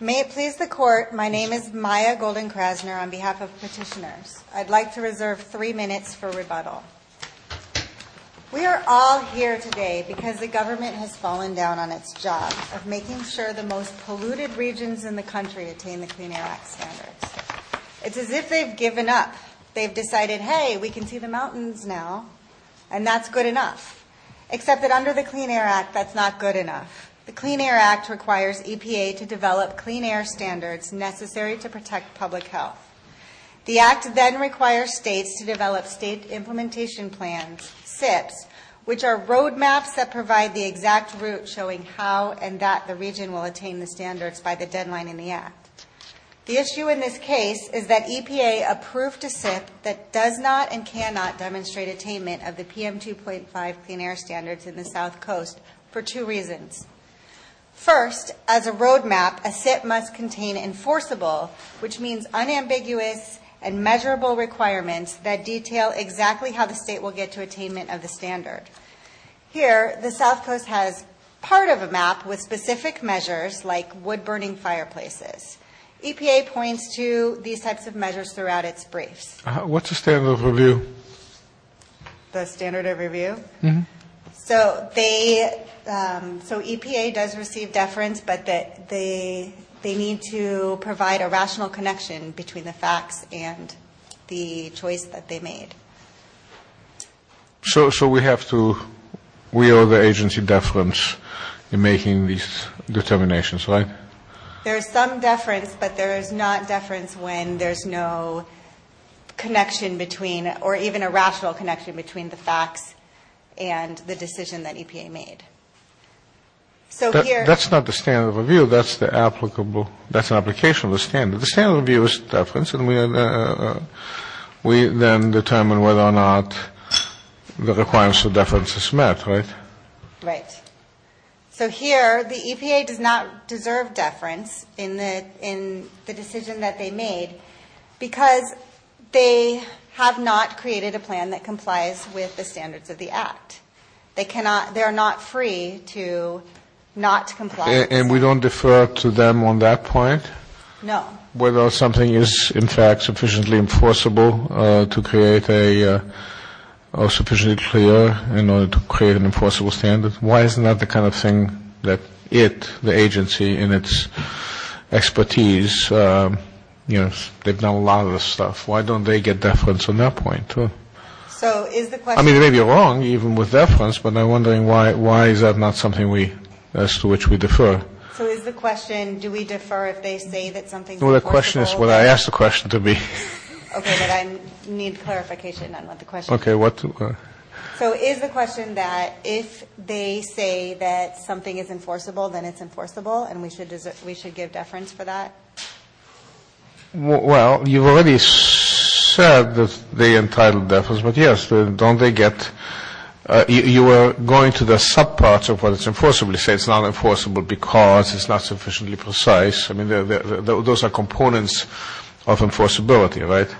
May it please the court, my name is Maya Golden-Krasner on behalf of petitioners. I'd like to reserve three minutes for rebuttal. We are all here today because the government has fallen down on its job of making sure the most polluted regions in the country attain the Clean Air Act standards. It's as if they've given up. They've decided, hey, we can see the mountains now, and that's good enough. Except that under the Clean Air Act, that's not good enough. The Clean Air Act requires EPA to develop clean air standards necessary to protect public health. The act then requires states to develop state implementation plans, SIPs, which are roadmaps that provide the exact route showing how and that the region will attain the standards by the deadline in the act. The issue in this case is that EPA approved a SIP that does not and cannot demonstrate attainment of the PM 2.5 Clean Air Standards in the South Coast for two reasons. First, as a roadmap, a SIP must contain enforceable, which means unambiguous and measurable requirements that detail exactly how the state will get to attainment of the standard. Here, the South Coast has part of a map with specific measures like wood-burning fireplaces. EPA points to these types of measures throughout its briefs. What's the standard of review? The standard of review? Mm-hmm. So they, so EPA does receive deference, but they need to provide a rational connection between the facts and the choice that they made. So we have to, we owe the agency deference in making these determinations, right? There is some deference, but there is not deference when there's no connection between, or even a rational connection between the facts and the decision that EPA made. That's not the standard of review. That's the applicable, that's an application of the standard. The standard of review is deference, and we then determine whether or not the requirements of deference is met, right? Right. So here, the EPA does not deserve deference in the decision that they made because they have not created a plan that complies with the standards of the Act. They cannot, they're not free to not comply. And we don't defer to them on that point? No. Whether something is, in fact, sufficiently enforceable to create a, or sufficiently clear in order to create an enforceable standard? Why isn't that the kind of thing that it, the agency, in its expertise, you know, they've done a lot of this stuff. Why don't they get deference on that point, too? So is the question I mean, they may be wrong, even with deference, but I'm wondering why is that not something we, as to which we defer? So is the question, do we defer if they say that something is enforceable? Well, the question is what I asked the question to be. Okay, but I need clarification on the question. Okay, what? So is the question that if they say that something is enforceable, then it's enforceable, and we should give deference for that? Well, you've already said that they entitled deference, but yes, don't they get, you were going to the subparts of what is enforceable. You say it's not enforceable because it's not sufficiently precise. I mean, those are components of enforceability, right?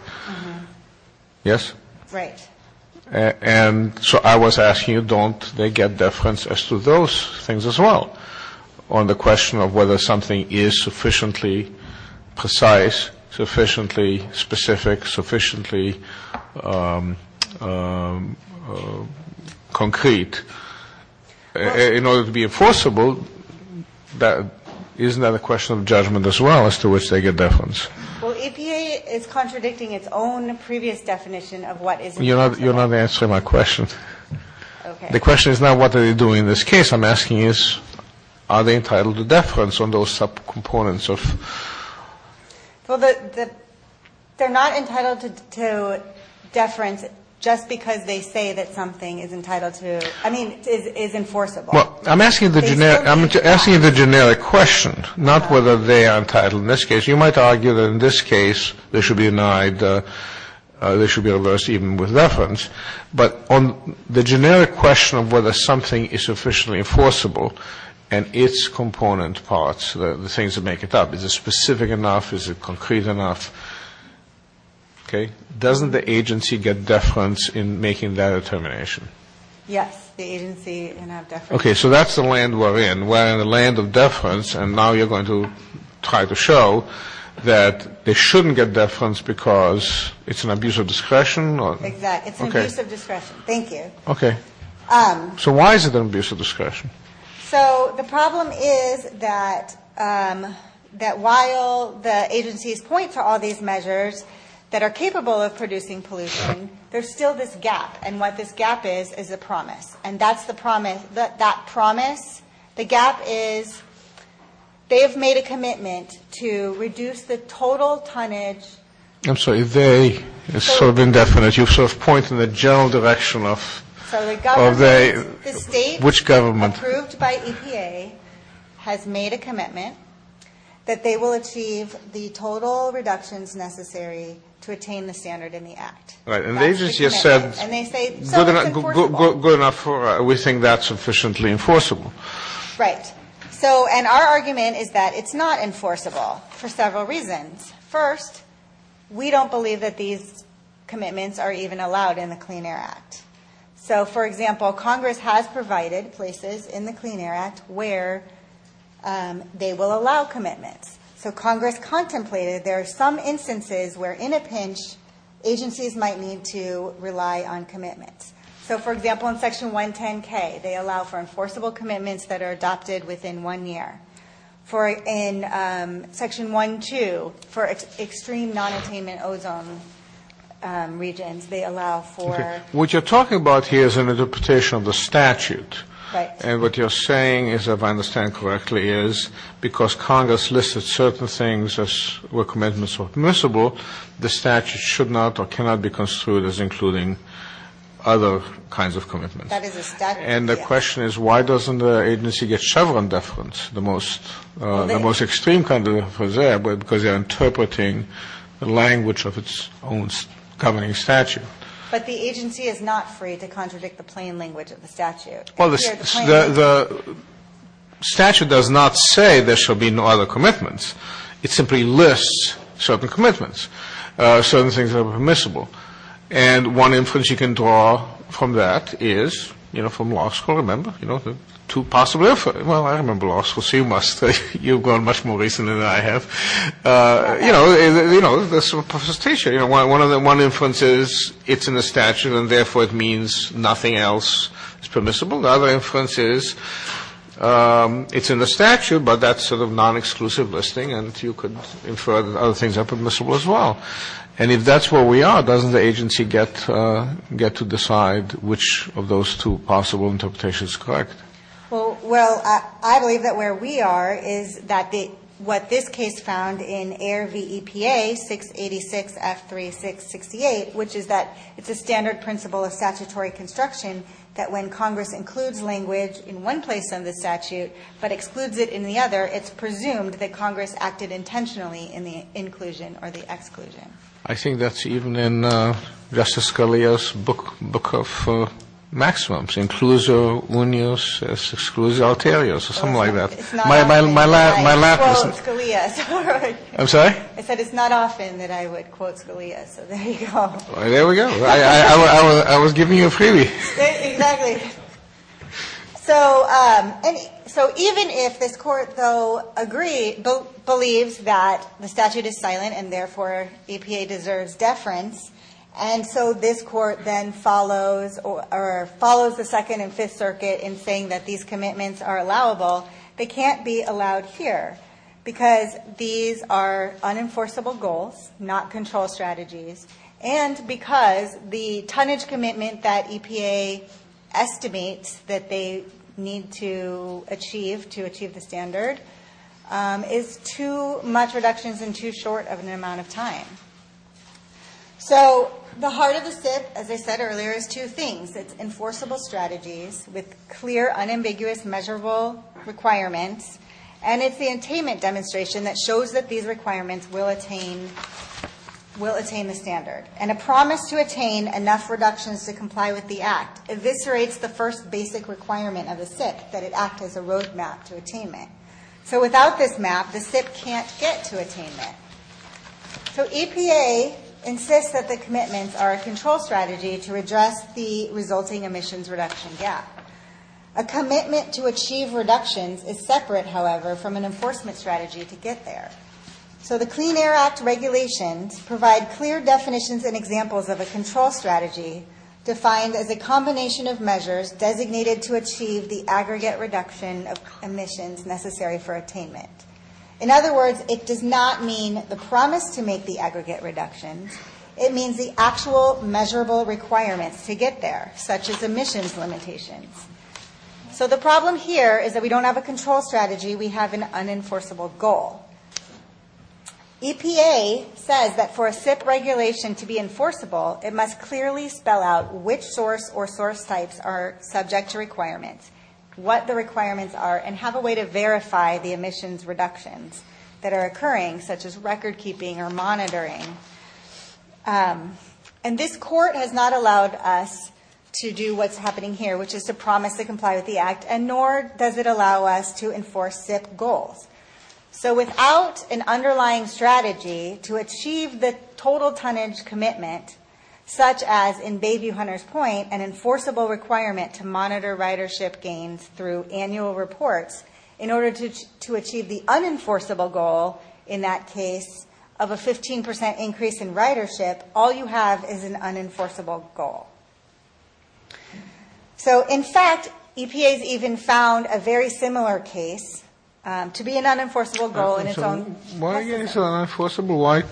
Yes? Right. And so I was asking you, don't they get deference as to those things as well, on the question of whether something is sufficiently precise, sufficiently specific, sufficiently concrete? In order to be enforceable, isn't that a question of judgment as well, as to which they get deference? Well, EPA is contradicting its own previous definition of what is enforceable. You're not answering my question. Okay. The question is not what are they doing in this case. I'm asking is, are they entitled to deference on those subcomponents of? Well, they're not entitled to deference just because they say that something is entitled to, I mean, is enforceable. Well, I'm asking the generic question, not whether they are entitled in this case. You might argue that in this case they should be denied, they should be reversed even with deference. But on the generic question of whether something is sufficiently enforceable and its component parts, the things that make it up, is it specific enough, is it concrete enough? Okay. Doesn't the agency get deference in making that determination? Yes, the agency can have deference. Okay. So that's the land we're in. We're in the land of deference, and now you're going to try to show that they shouldn't get deference because it's an abuse of discretion? Exactly. It's an abuse of discretion. Thank you. Okay. So why is it an abuse of discretion? So the problem is that while the agency's points are all these measures that are capable of producing pollution, there's still this gap, and what this gap is is a promise, and that's the promise. That promise, the gap is they have made a commitment to reduce the total tonnage. I'm sorry, they. It's sort of indefinite. You sort of point in the general direction of they. So the government, the state approved by EPA has made a commitment that they will achieve the total reductions necessary to attain the standard in the act. Right. And the agency has said. And they say, so it's enforceable. Good enough. We think that's sufficiently enforceable. Right. And our argument is that it's not enforceable for several reasons. First, we don't believe that these commitments are even allowed in the Clean Air Act. So, for example, Congress has provided places in the Clean Air Act where they will allow commitments. So Congress contemplated there are some instances where in a pinch, agencies might need to rely on commitments. So, for example, in Section 110K, they allow for enforceable commitments that are adopted within one year. In Section 1.2, for extreme nonattainment ozone regions, they allow for. Okay. What you're talking about here is an interpretation of the statute. Right. And what you're saying is, if I understand correctly, is because Congress listed certain things as where commitments were permissible, the statute should not or cannot be construed as including other kinds of commitments. That is a statute. And the question is, why doesn't the agency get Chevron deference, the most extreme kind of deference there, because they are interpreting the language of its own governing statute. But the agency is not free to contradict the plain language of the statute. Well, the statute does not say there shall be no other commitments. It simply lists certain commitments, certain things that are permissible. And one inference you can draw from that is, you know, from law school, remember? You know, two possible inferences. Well, I remember law school, so you must. You've grown much more recent than I have. You know, you know, there's some profanity here. One inference is it's in the statute, and therefore it means nothing else is permissible. The other inference is it's in the statute, but that's sort of non-exclusive listing, and you could infer that other things are permissible as well. And if that's where we are, doesn't the agency get to decide which of those two possible interpretations is correct? Well, I believe that where we are is that what this case found in AIR v. EPA 686F3668, which is that it's a standard principle of statutory construction that when Congress includes language in one place in the statute but excludes it in the other, it's presumed that Congress acted intentionally in the inclusion or the exclusion. I think that's even in Justice Scalia's book of maximums, Inclusio Unius Exclusio Aeterius or something like that. It's not often that I quote Scalia. I'm sorry? I said it's not often that I would quote Scalia, so there you go. There we go. I was giving you a freebie. Exactly. So even if this Court, though, agrees, believes that the statute is silent and therefore EPA deserves deference, and so this Court then follows the Second and Fifth Circuit in saying that these commitments are allowable, they can't be allowed here because these are unenforceable goals, not control strategies, and because the tonnage commitment that EPA estimates that they need to achieve to achieve the standard is too much reductions and too short of an amount of time. So the heart of the SIPP, as I said earlier, is two things. It's enforceable strategies with clear, unambiguous, measurable requirements, and it's the attainment demonstration that shows that these requirements will attain the standard, and a promise to attain enough reductions to comply with the Act eviscerates the first basic requirement of the SIPP, that it act as a roadmap to attainment. So without this map, the SIPP can't get to attainment. So EPA insists that the commitments are a control strategy to address the resulting emissions reduction gap. A commitment to achieve reductions is separate, however, from an enforcement strategy to get there. So the Clean Air Act regulations provide clear definitions and examples of a control strategy defined as a combination of measures designated to achieve the aggregate reduction of emissions necessary for attainment. In other words, it does not mean the promise to make the aggregate reduction. It means the actual measurable requirements to get there, such as emissions limitations. So the problem here is that we don't have a control strategy, we have an unenforceable goal. EPA says that for a SIPP regulation to be enforceable, it must clearly spell out which source or source types are subject to requirements, what the requirements are, and have a way to verify the emissions reductions that are occurring, such as record keeping or monitoring. And this court has not allowed us to do what's happening here, which is to promise to comply with the Act, and nor does it allow us to enforce SIPP goals. So without an underlying strategy to achieve the total tonnage commitment, such as in Bayview-Hunters Point, an enforceable requirement to monitor ridership gains through annual reports, in order to achieve the unenforceable goal in that case of a 15% increase in ridership, all you have is an unenforceable goal. So, in fact, EPA's even found a very similar case to be an unenforceable goal in its own testament. Why is it unenforceable?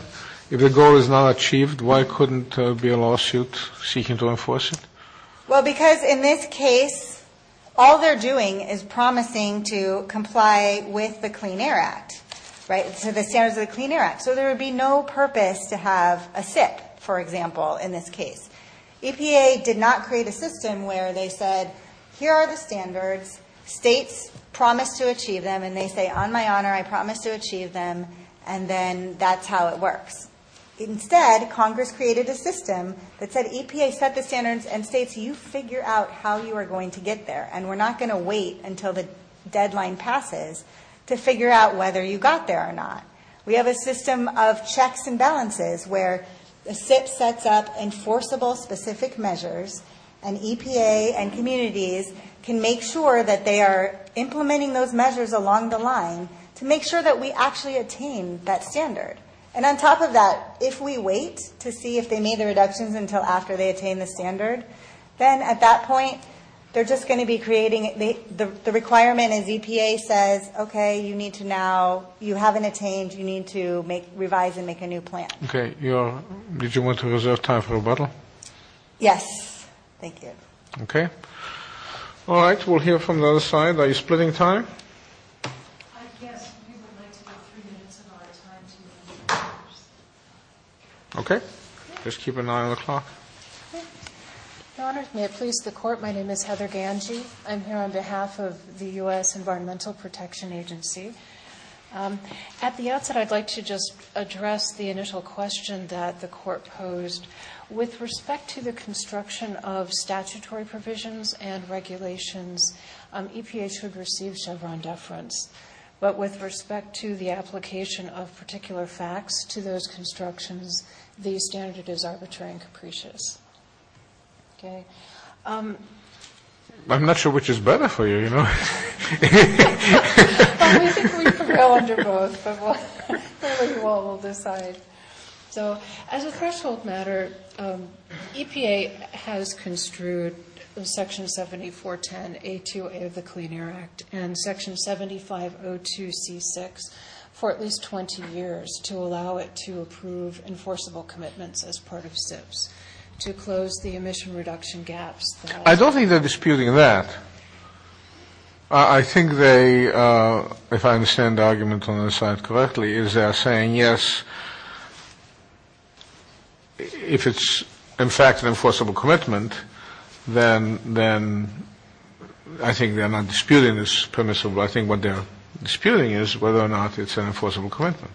If the goal is not achieved, why couldn't there be a lawsuit seeking to enforce it? Well, because in this case, all they're doing is promising to comply with the Clean Air Act, right? So the standards of the Clean Air Act. So there would be no purpose to have a SIPP, for example, in this case. EPA did not create a system where they said, here are the standards, states promise to achieve them, and they say, on my honor, I promise to achieve them, and then that's how it works. Instead, Congress created a system that said, EPA set the standards, and states, you figure out how you are going to get there, and we're not going to wait until the deadline passes to figure out whether you got there or not. We have a system of checks and balances where the SIPP sets up enforceable specific measures, and EPA and communities can make sure that they are implementing those measures along the line to make sure that we actually attain that standard. And on top of that, if we wait to see if they made the reductions until after they attain the standard, then at that point, they're just going to be creating the requirement as EPA says, okay, you need to now, you haven't attained, you need to revise and make a new plan. Okay. Did you want to reserve time for rebuttal? Yes. Thank you. Okay. All right. We'll hear from the other side. Are you splitting time? I guess we would like to give three minutes of our time to you. Okay. Just keep an eye on the clock. Okay. Your Honor, may it please the Court, my name is Heather Ganji. I'm here on behalf of the U.S. Environmental Protection Agency. At the outset, I'd like to just address the initial question that the Court posed. With respect to the construction of statutory provisions and regulations, EPA should receive Chevron deference. But with respect to the application of particular facts to those constructions, the standard is arbitrary and capricious. Okay. I'm not sure which is better for you, you know. Well, we think we prevail under both, but we'll decide. So as a threshold matter, EPA has construed Section 7410A2A of the Clean Air Act and Section 7502C6 for at least 20 years to allow it to approve enforceable commitments as part of SIPs, to close the emission reduction gaps. I don't think they're disputing that. I think they, if I understand the argument on their side correctly, is they're saying, yes, if it's in fact an enforceable commitment, then I think they're not disputing this permissible. I think what they're disputing is whether or not it's an enforceable commitment.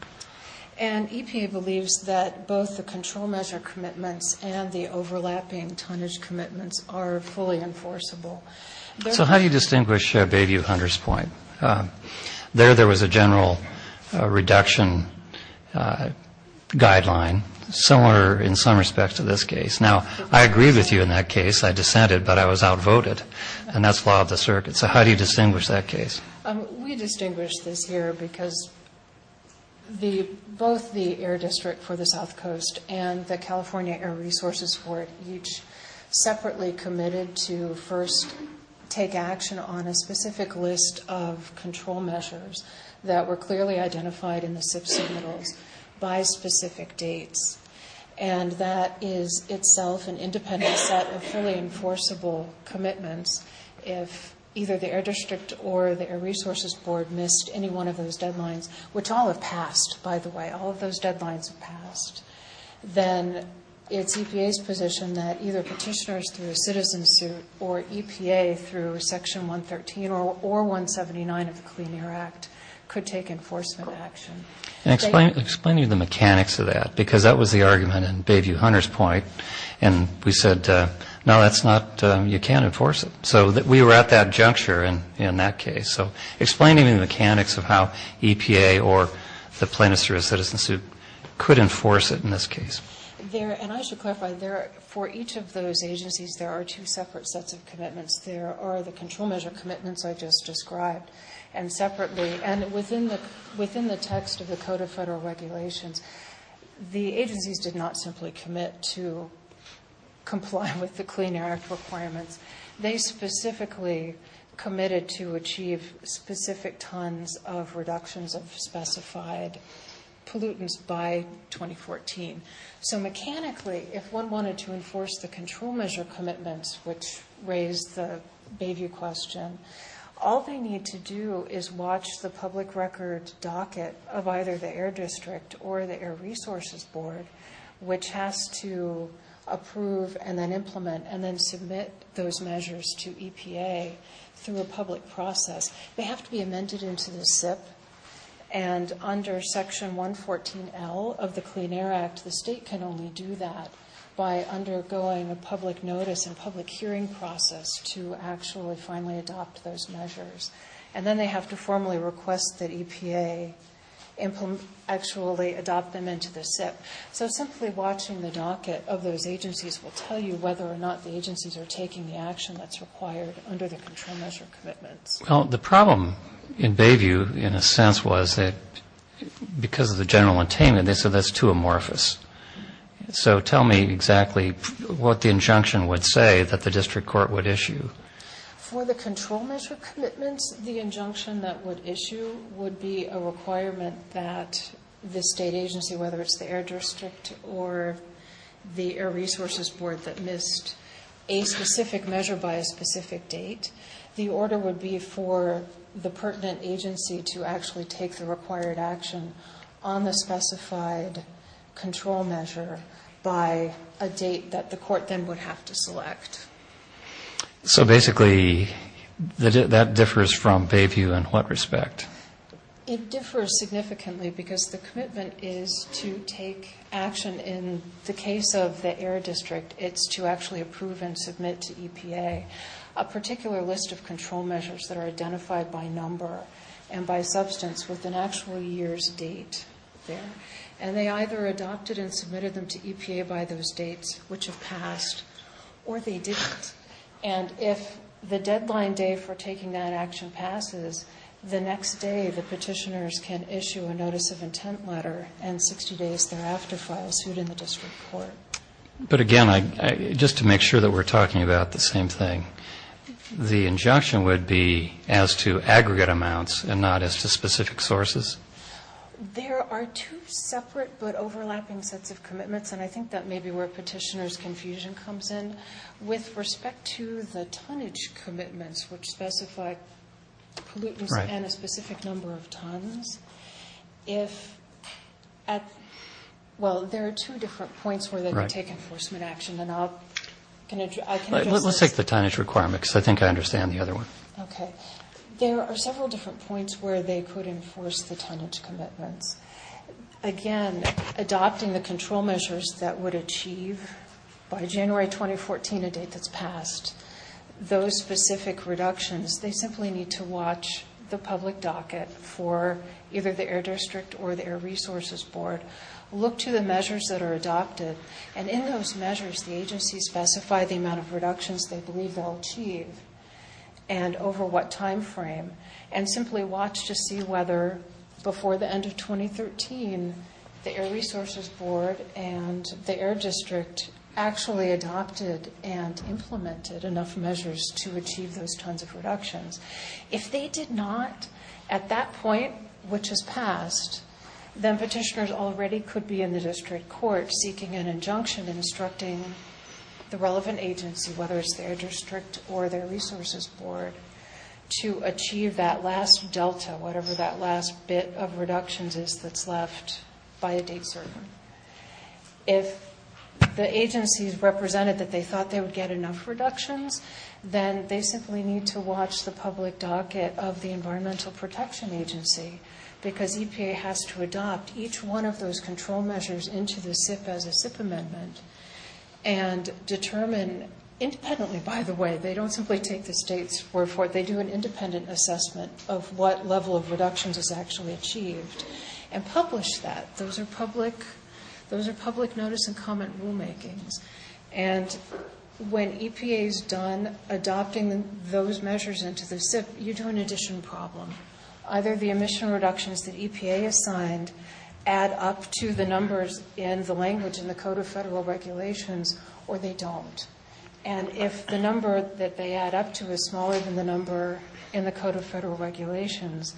And EPA believes that both the control measure commitments and the overlapping tonnage commitments are fully enforceable. So how do you distinguish Bayview-Hunter's point? There, there was a general reduction guideline, similar in some respects to this case. Now, I agree with you in that case. I dissented, but I was outvoted. And that's law of the circuit. So how do you distinguish that case? We distinguish this here because both the Air District for the South Coast and the California Air Resources Board each separately committed to first take action on a specific list of control measures that were clearly identified in the SIPs signals by specific dates. And that is itself an independent set of fully enforceable commitments if either the Air District or the Air Resources Board missed any one of those deadlines, which all have passed, by the way. All of those deadlines have passed. Then it's EPA's position that either petitioners through a citizen suit or EPA through Section 113 or 179 of the Clean Air Act could take enforcement action. Explain to me the mechanics of that, because that was the argument in Bayview-Hunter's point. And we said, no, that's not, you can't enforce it. So we were at that juncture in that case. So explain to me the mechanics of how EPA or the plaintiffs through a citizen suit could enforce it in this case. And I should clarify, for each of those agencies, there are two separate sets of commitments. There are the control measure commitments I just described, and separately. And within the text of the Code of Federal Regulations, the agencies did not simply commit to comply with the Clean Air Act requirements. They specifically committed to achieve specific tons of reductions of specified pollutants by 2014. So mechanically, if one wanted to enforce the control measure commitments, which raised the Bayview question, all they need to do is watch the public record docket of either the Air District or the Air Resources Board, which has to approve and then implement and then submit those measures to EPA through a public process. They have to be amended into the SIP, and under Section 114L of the Clean Air Act, the state can only do that by undergoing a public notice and public hearing process to actually finally adopt those measures. And then they have to formally request that EPA actually adopt them into the SIP. So simply watching the docket of those agencies will tell you whether or not the agencies are taking the action that's required under the control measure commitments. Well, the problem in Bayview, in a sense, was that because of the general attainment, they said that's too amorphous. So tell me exactly what the injunction would say that the district court would issue. For the control measure commitments, the injunction that would issue would be a requirement that the state agency, whether it's the Air District or the Air Resources Board, that missed a specific measure by a specific date. The order would be for the pertinent agency to actually take the required action on the specified control measure by a date that the court then would have to select. So basically that differs from Bayview in what respect? It differs significantly because the commitment is to take action. In the case of the Air District, it's to actually approve and submit to EPA. A particular list of control measures that are identified by number and by substance with an actual year's date there. And they either adopted and submitted them to EPA by those dates, which have passed, or they didn't. And if the deadline day for taking that action passes, the next day the petitioners can issue a notice of intent letter and 60 days thereafter file suit in the district court. But again, just to make sure that we're talking about the same thing, the injunction would be as to aggregate amounts and not as to specific sources? There are two separate but overlapping sets of commitments, and I think that may be where petitioners' confusion comes in. With respect to the tonnage commitments, which specify pollutants and a specific number of tons, if at, well, there are two different points where they take enforcement action, and I can address this. Let's take the tonnage requirement because I think I understand the other one. Okay. There are several different points where they could enforce the tonnage commitments. Again, adopting the control measures that would achieve by January 2014, a date that's passed, those specific reductions, they simply need to watch the public docket for either the Air District or the Air Resources Board, look to the measures that are adopted, and in those measures, the agencies specify the amount of reductions they believe they'll achieve and over what time frame, and simply watch to see whether before the end of 2013, the Air Resources Board and the Air District actually adopted and implemented enough measures to achieve those tons of reductions. If they did not at that point, which has passed, then petitioners already could be in the district court seeking an injunction instructing the relevant agency, whether it's the Air District or the Air Resources Board, to achieve that last delta, whatever that last bit of reductions is that's left by a date certain. If the agencies represented that they thought they would get enough reductions, then they simply need to watch the public docket of the Environmental Protection Agency because EPA has to adopt each one of those control measures into the SIP as a SIP amendment and determine independently, by the way, they don't simply take the state's word for it. They do an independent assessment of what level of reductions is actually achieved and publish that. Those are public notice and comment rulemakings. And when EPA is done adopting those measures into the SIP, you do an addition problem. Either the emission reductions that EPA has signed add up to the numbers in the language in the Code of Federal Regulations, or they don't. And if the number that they add up to is smaller than the number in the Code of Federal Regulations,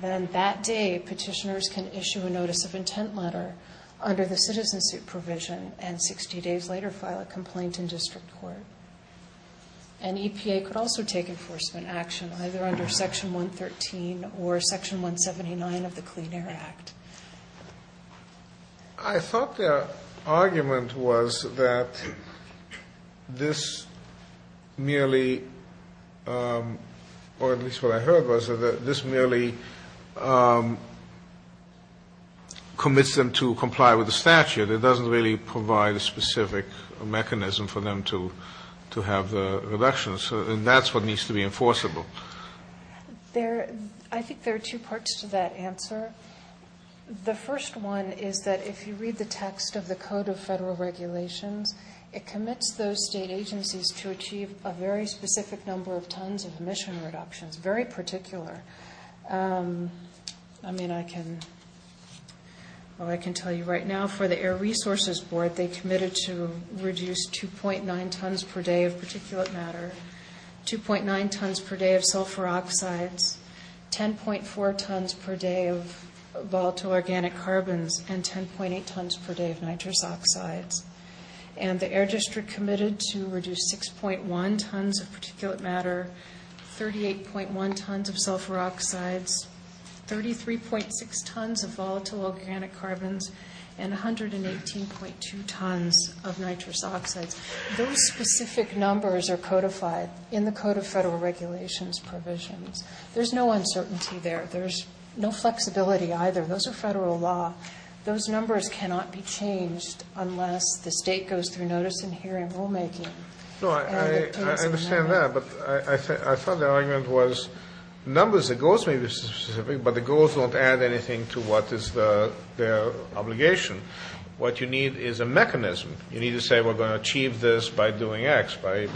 then that day petitioners can issue a notice of intent letter under the citizenship provision and 60 days later file a complaint in district court. And EPA could also take enforcement action either under Section 113 or Section 179 of the Clean Air Act. I thought their argument was that this merely, or at least what I heard was, that this merely commits them to comply with the statute. It doesn't really provide a specific mechanism for them to have the reductions. And that's what needs to be enforceable. I think there are two parts to that answer. The first one is that if you read the text of the Code of Federal Regulations, it commits those state agencies to achieve a very specific number of tons of emission reductions, very particular. I mean, I can tell you right now for the Air Resources Board, they committed to reduce 2.9 tons per day of particulate matter, 2.9 tons per day of sulfur oxides, 10.4 tons per day of volatile organic carbons, and 10.8 tons per day of nitrous oxides. And the Air District committed to reduce 6.1 tons of particulate matter, 38.1 tons of sulfur oxides, 33.6 tons of volatile organic carbons, and 118.2 tons of nitrous oxides. Those specific numbers are codified in the Code of Federal Regulations provisions. There's no uncertainty there. There's no flexibility either. Those are Federal law. Those numbers cannot be changed unless the state goes through notice and hearing rulemaking. No, I understand that, but I thought the argument was numbers, the goals may be specific, but the goals don't add anything to what is their obligation. What you need is a mechanism. You need to say we're going to achieve this by doing X, by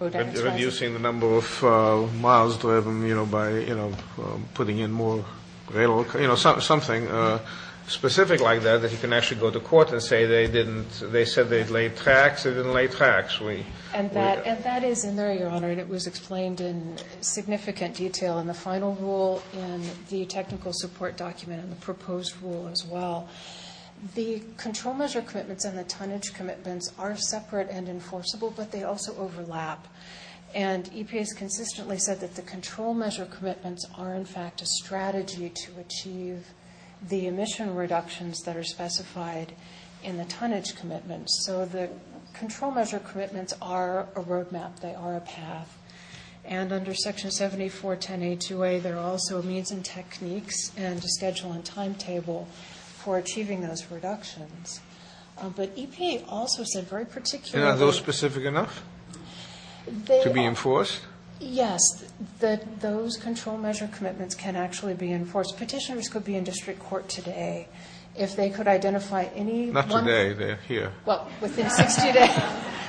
reducing the number of miles driven, you know, by putting in more, you know, something specific like that, so that you can actually go to court and say they didn't, they said they'd lay tax, they didn't lay tax. And that is in there, Your Honor, and it was explained in significant detail in the final rule and the technical support document and the proposed rule as well. The control measure commitments and the tonnage commitments are separate and enforceable, but they also overlap. And EPA has consistently said that the control measure commitments are, in fact, a strategy to achieve the emission reductions that are specified in the tonnage commitments. So the control measure commitments are a road map. They are a path. And under Section 7410A2A, there are also means and techniques and a schedule and timetable for achieving those reductions. But EPA also said very particularly that those control measure commitments can actually be enforced. And are those specific enough to be enforced? Yes. Those control measure commitments can actually be enforced. Petitioners could be in district court today if they could identify any one thing. Not today. They're here. Well, within 60 days.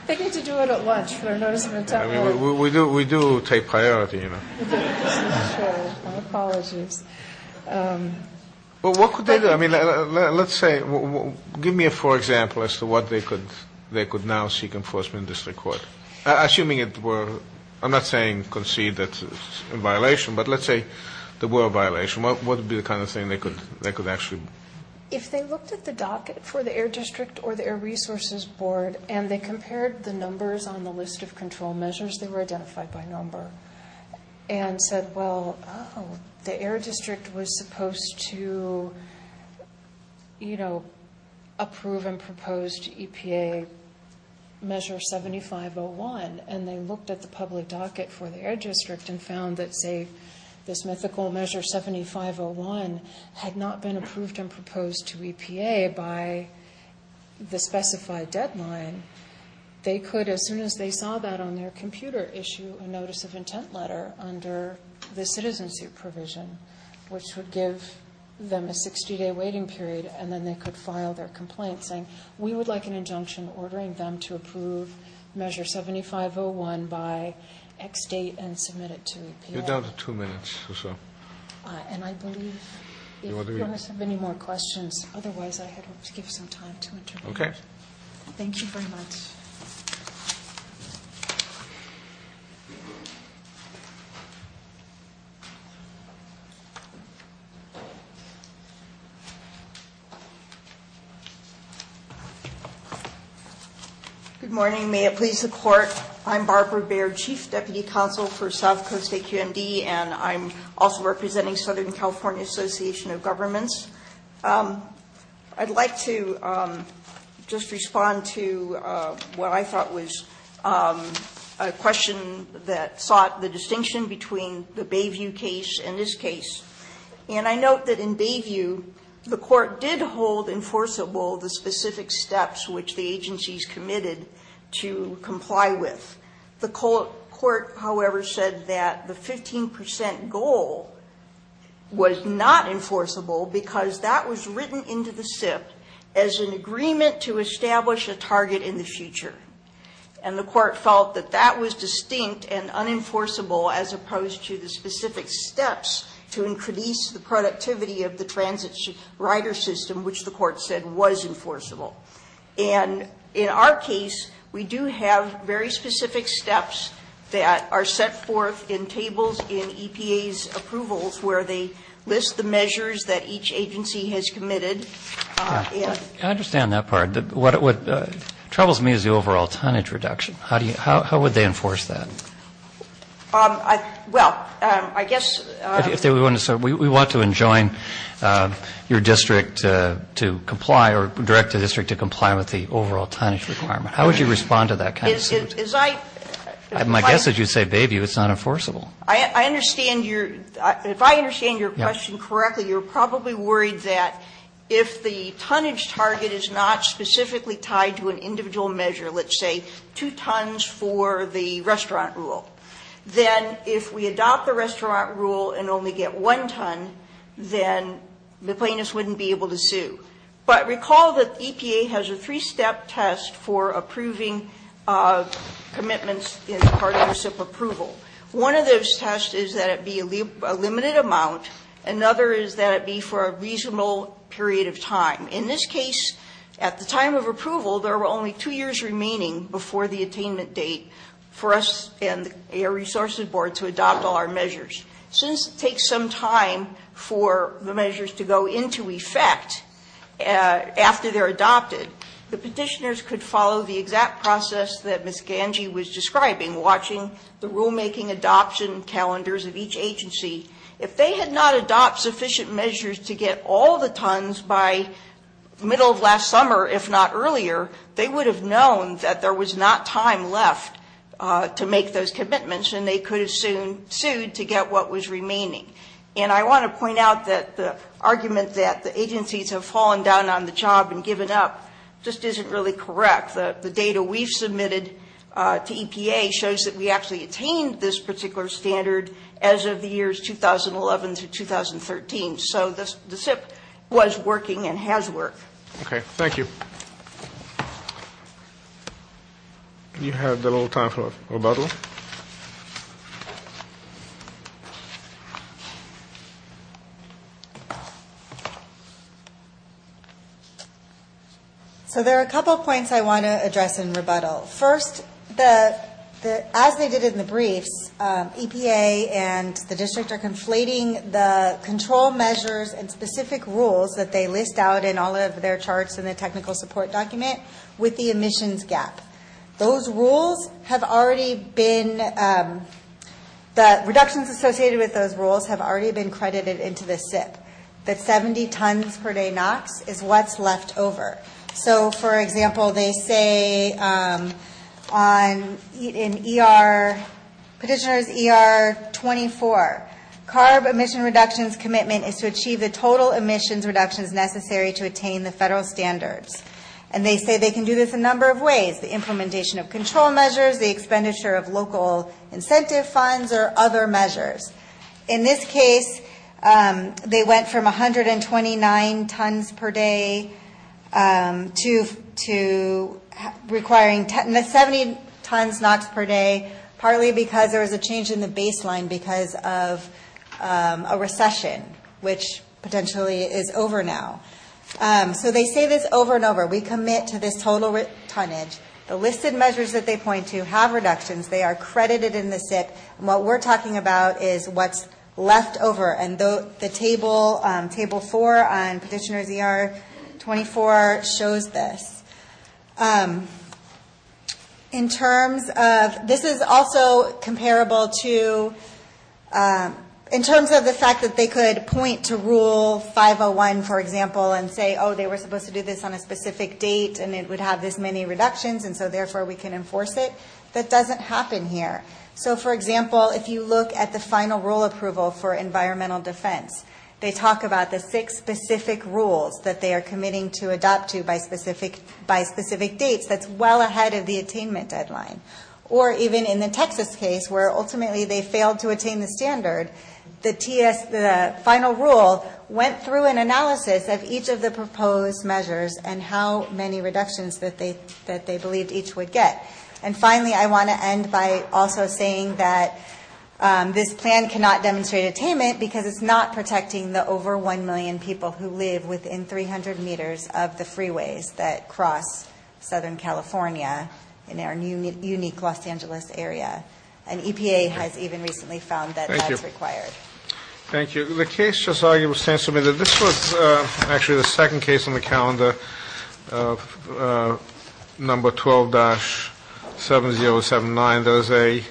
They need to do it at lunch for a notice of intent. I mean, we do take priority, you know. Okay. Sure. My apologies. Well, what could they do? I mean, let's say, give me a poor example as to what they could now seek enforcement in district court. Assuming it were, I'm not saying concede that it's a violation, but let's say there were a violation. What would be the kind of thing they could actually do? If they looked at the docket for the Air District or the Air Resources Board and they compared the numbers on the list of control measures, they were identified by number, and said, well, oh, the Air District was supposed to, you know, approve and propose to EPA measure 7501. And they looked at the public docket for the Air District and found that, say, this mythical measure 7501 had not been approved and proposed to EPA by the specified deadline. They could, as soon as they saw that on their computer, issue a notice of intent letter under the citizenship provision, which would give them a 60-day waiting period, and then they could file their complaint, saying, we would like an injunction ordering them to approve measure 7501 by X date and submit it to EPA. You're down to two minutes or so. And I believe, if you want to submit any more questions, otherwise I had hoped to give some time to intervene. Okay. Thank you very much. Good morning. May it please the Court, I'm Barbara Baird, Chief Deputy Counsel for South Coast AQMD, and I'm also representing Southern California Association of Governments. I'd like to just respond to what I thought was a question that sought the distinction between the Bayview case and this case. And I note that in Bayview, the Court did hold enforceable the specific steps which the agencies committed to comply with. The Court, however, said that the 15 percent goal was not enforceable, because that was written into the SIP as an agreement to establish a target in the future. And the Court felt that that was distinct and unenforceable as opposed to the specific steps to increase the productivity of the transit rider system, which the Court said was enforceable. And in our case, we do have very specific steps that are set forth in tables in EPA's approvals where they list the measures that each agency has committed. I understand that part. What troubles me is the overall tonnage reduction. How would they enforce that? Well, I guess. We want to enjoin your district to comply or direct the district to comply with the overall tonnage requirement. How would you respond to that kind of suit? My guess is you'd say, Bayview, it's not enforceable. I understand your question correctly. You're probably worried that if the tonnage target is not specifically tied to an individual measure, let's say 2 tons for the restaurant rule, then if we adopt the restaurant rule and only get 1 ton, then the plaintiffs wouldn't be able to sue. But recall that EPA has a three-step test for approving commitments as part of their SIP approval. One of those tests is that it be a limited amount. Another is that it be for a reasonable period of time. In this case, at the time of approval, there were only 2 years remaining before the attainment date for us and the Air Resources Board to adopt all our measures. Since it takes some time for the measures to go into effect after they're adopted, the petitioners could follow the exact process that Ms. Gange was describing, watching the rulemaking adoption calendars of each agency. If they had not adopted sufficient measures to get all the tons by the middle of last summer, if not earlier, they would have known that there was not time left to make those commitments, and they could have soon sued to get what was remaining. And I want to point out that the argument that the agencies have fallen down on the job and given up just isn't really correct. The data we've submitted to EPA shows that we actually attained this particular standard as of the years 2011 through 2013. So the SIP was working and has worked. Okay, thank you. You have a little time for rebuttal. So there are a couple points I want to address in rebuttal. First, as they did in the briefs, EPA and the district are conflating the control measures and specific rules that they list out in all of their charts in the technical support document with the emissions gap. Those rules have already been, the reductions associated with those rules have already been credited into the SIP. That 70 tons per day NOx is what's left over. So, for example, they say in ER, petitioner's ER 24, CARB emission reductions commitment is to achieve the total emissions reductions necessary to attain the federal standards. And they say they can do this a number of ways, the implementation of control measures, the expenditure of local incentive funds or other measures. In this case, they went from 129 tons per day to requiring 70 tons NOx per day, partly because there was a change in the baseline because of a recession, which potentially is over now. So they say this over and over. We commit to this total tonnage. The listed measures that they point to have reductions. They are credited in the SIP. And what we're talking about is what's left over. And the table four on petitioner's ER 24 shows this. In terms of, this is also comparable to, in terms of the fact that they could point to rule 501, for example, and say, oh, they were supposed to do this on a specific date, and it would have this many reductions, and so, therefore, we can enforce it. That doesn't happen here. So, for example, if you look at the final rule approval for environmental defense, they talk about the six specific rules that they are committing to adopt to by specific dates. That's well ahead of the attainment deadline. Or even in the Texas case, where ultimately they failed to attain the standard, the final rule went through an analysis of each of the proposed measures and how many reductions that they believed each would get. And finally, I want to end by also saying that this plan cannot demonstrate attainment because it's not protecting the over 1 million people who live within 300 meters of the freeways that cross Southern California in our unique Los Angeles area. And EPA has even recently found that that's required. Thank you. Thank you. The case just now was submitted. This was actually the second case on the calendar, number 12-7079. That is a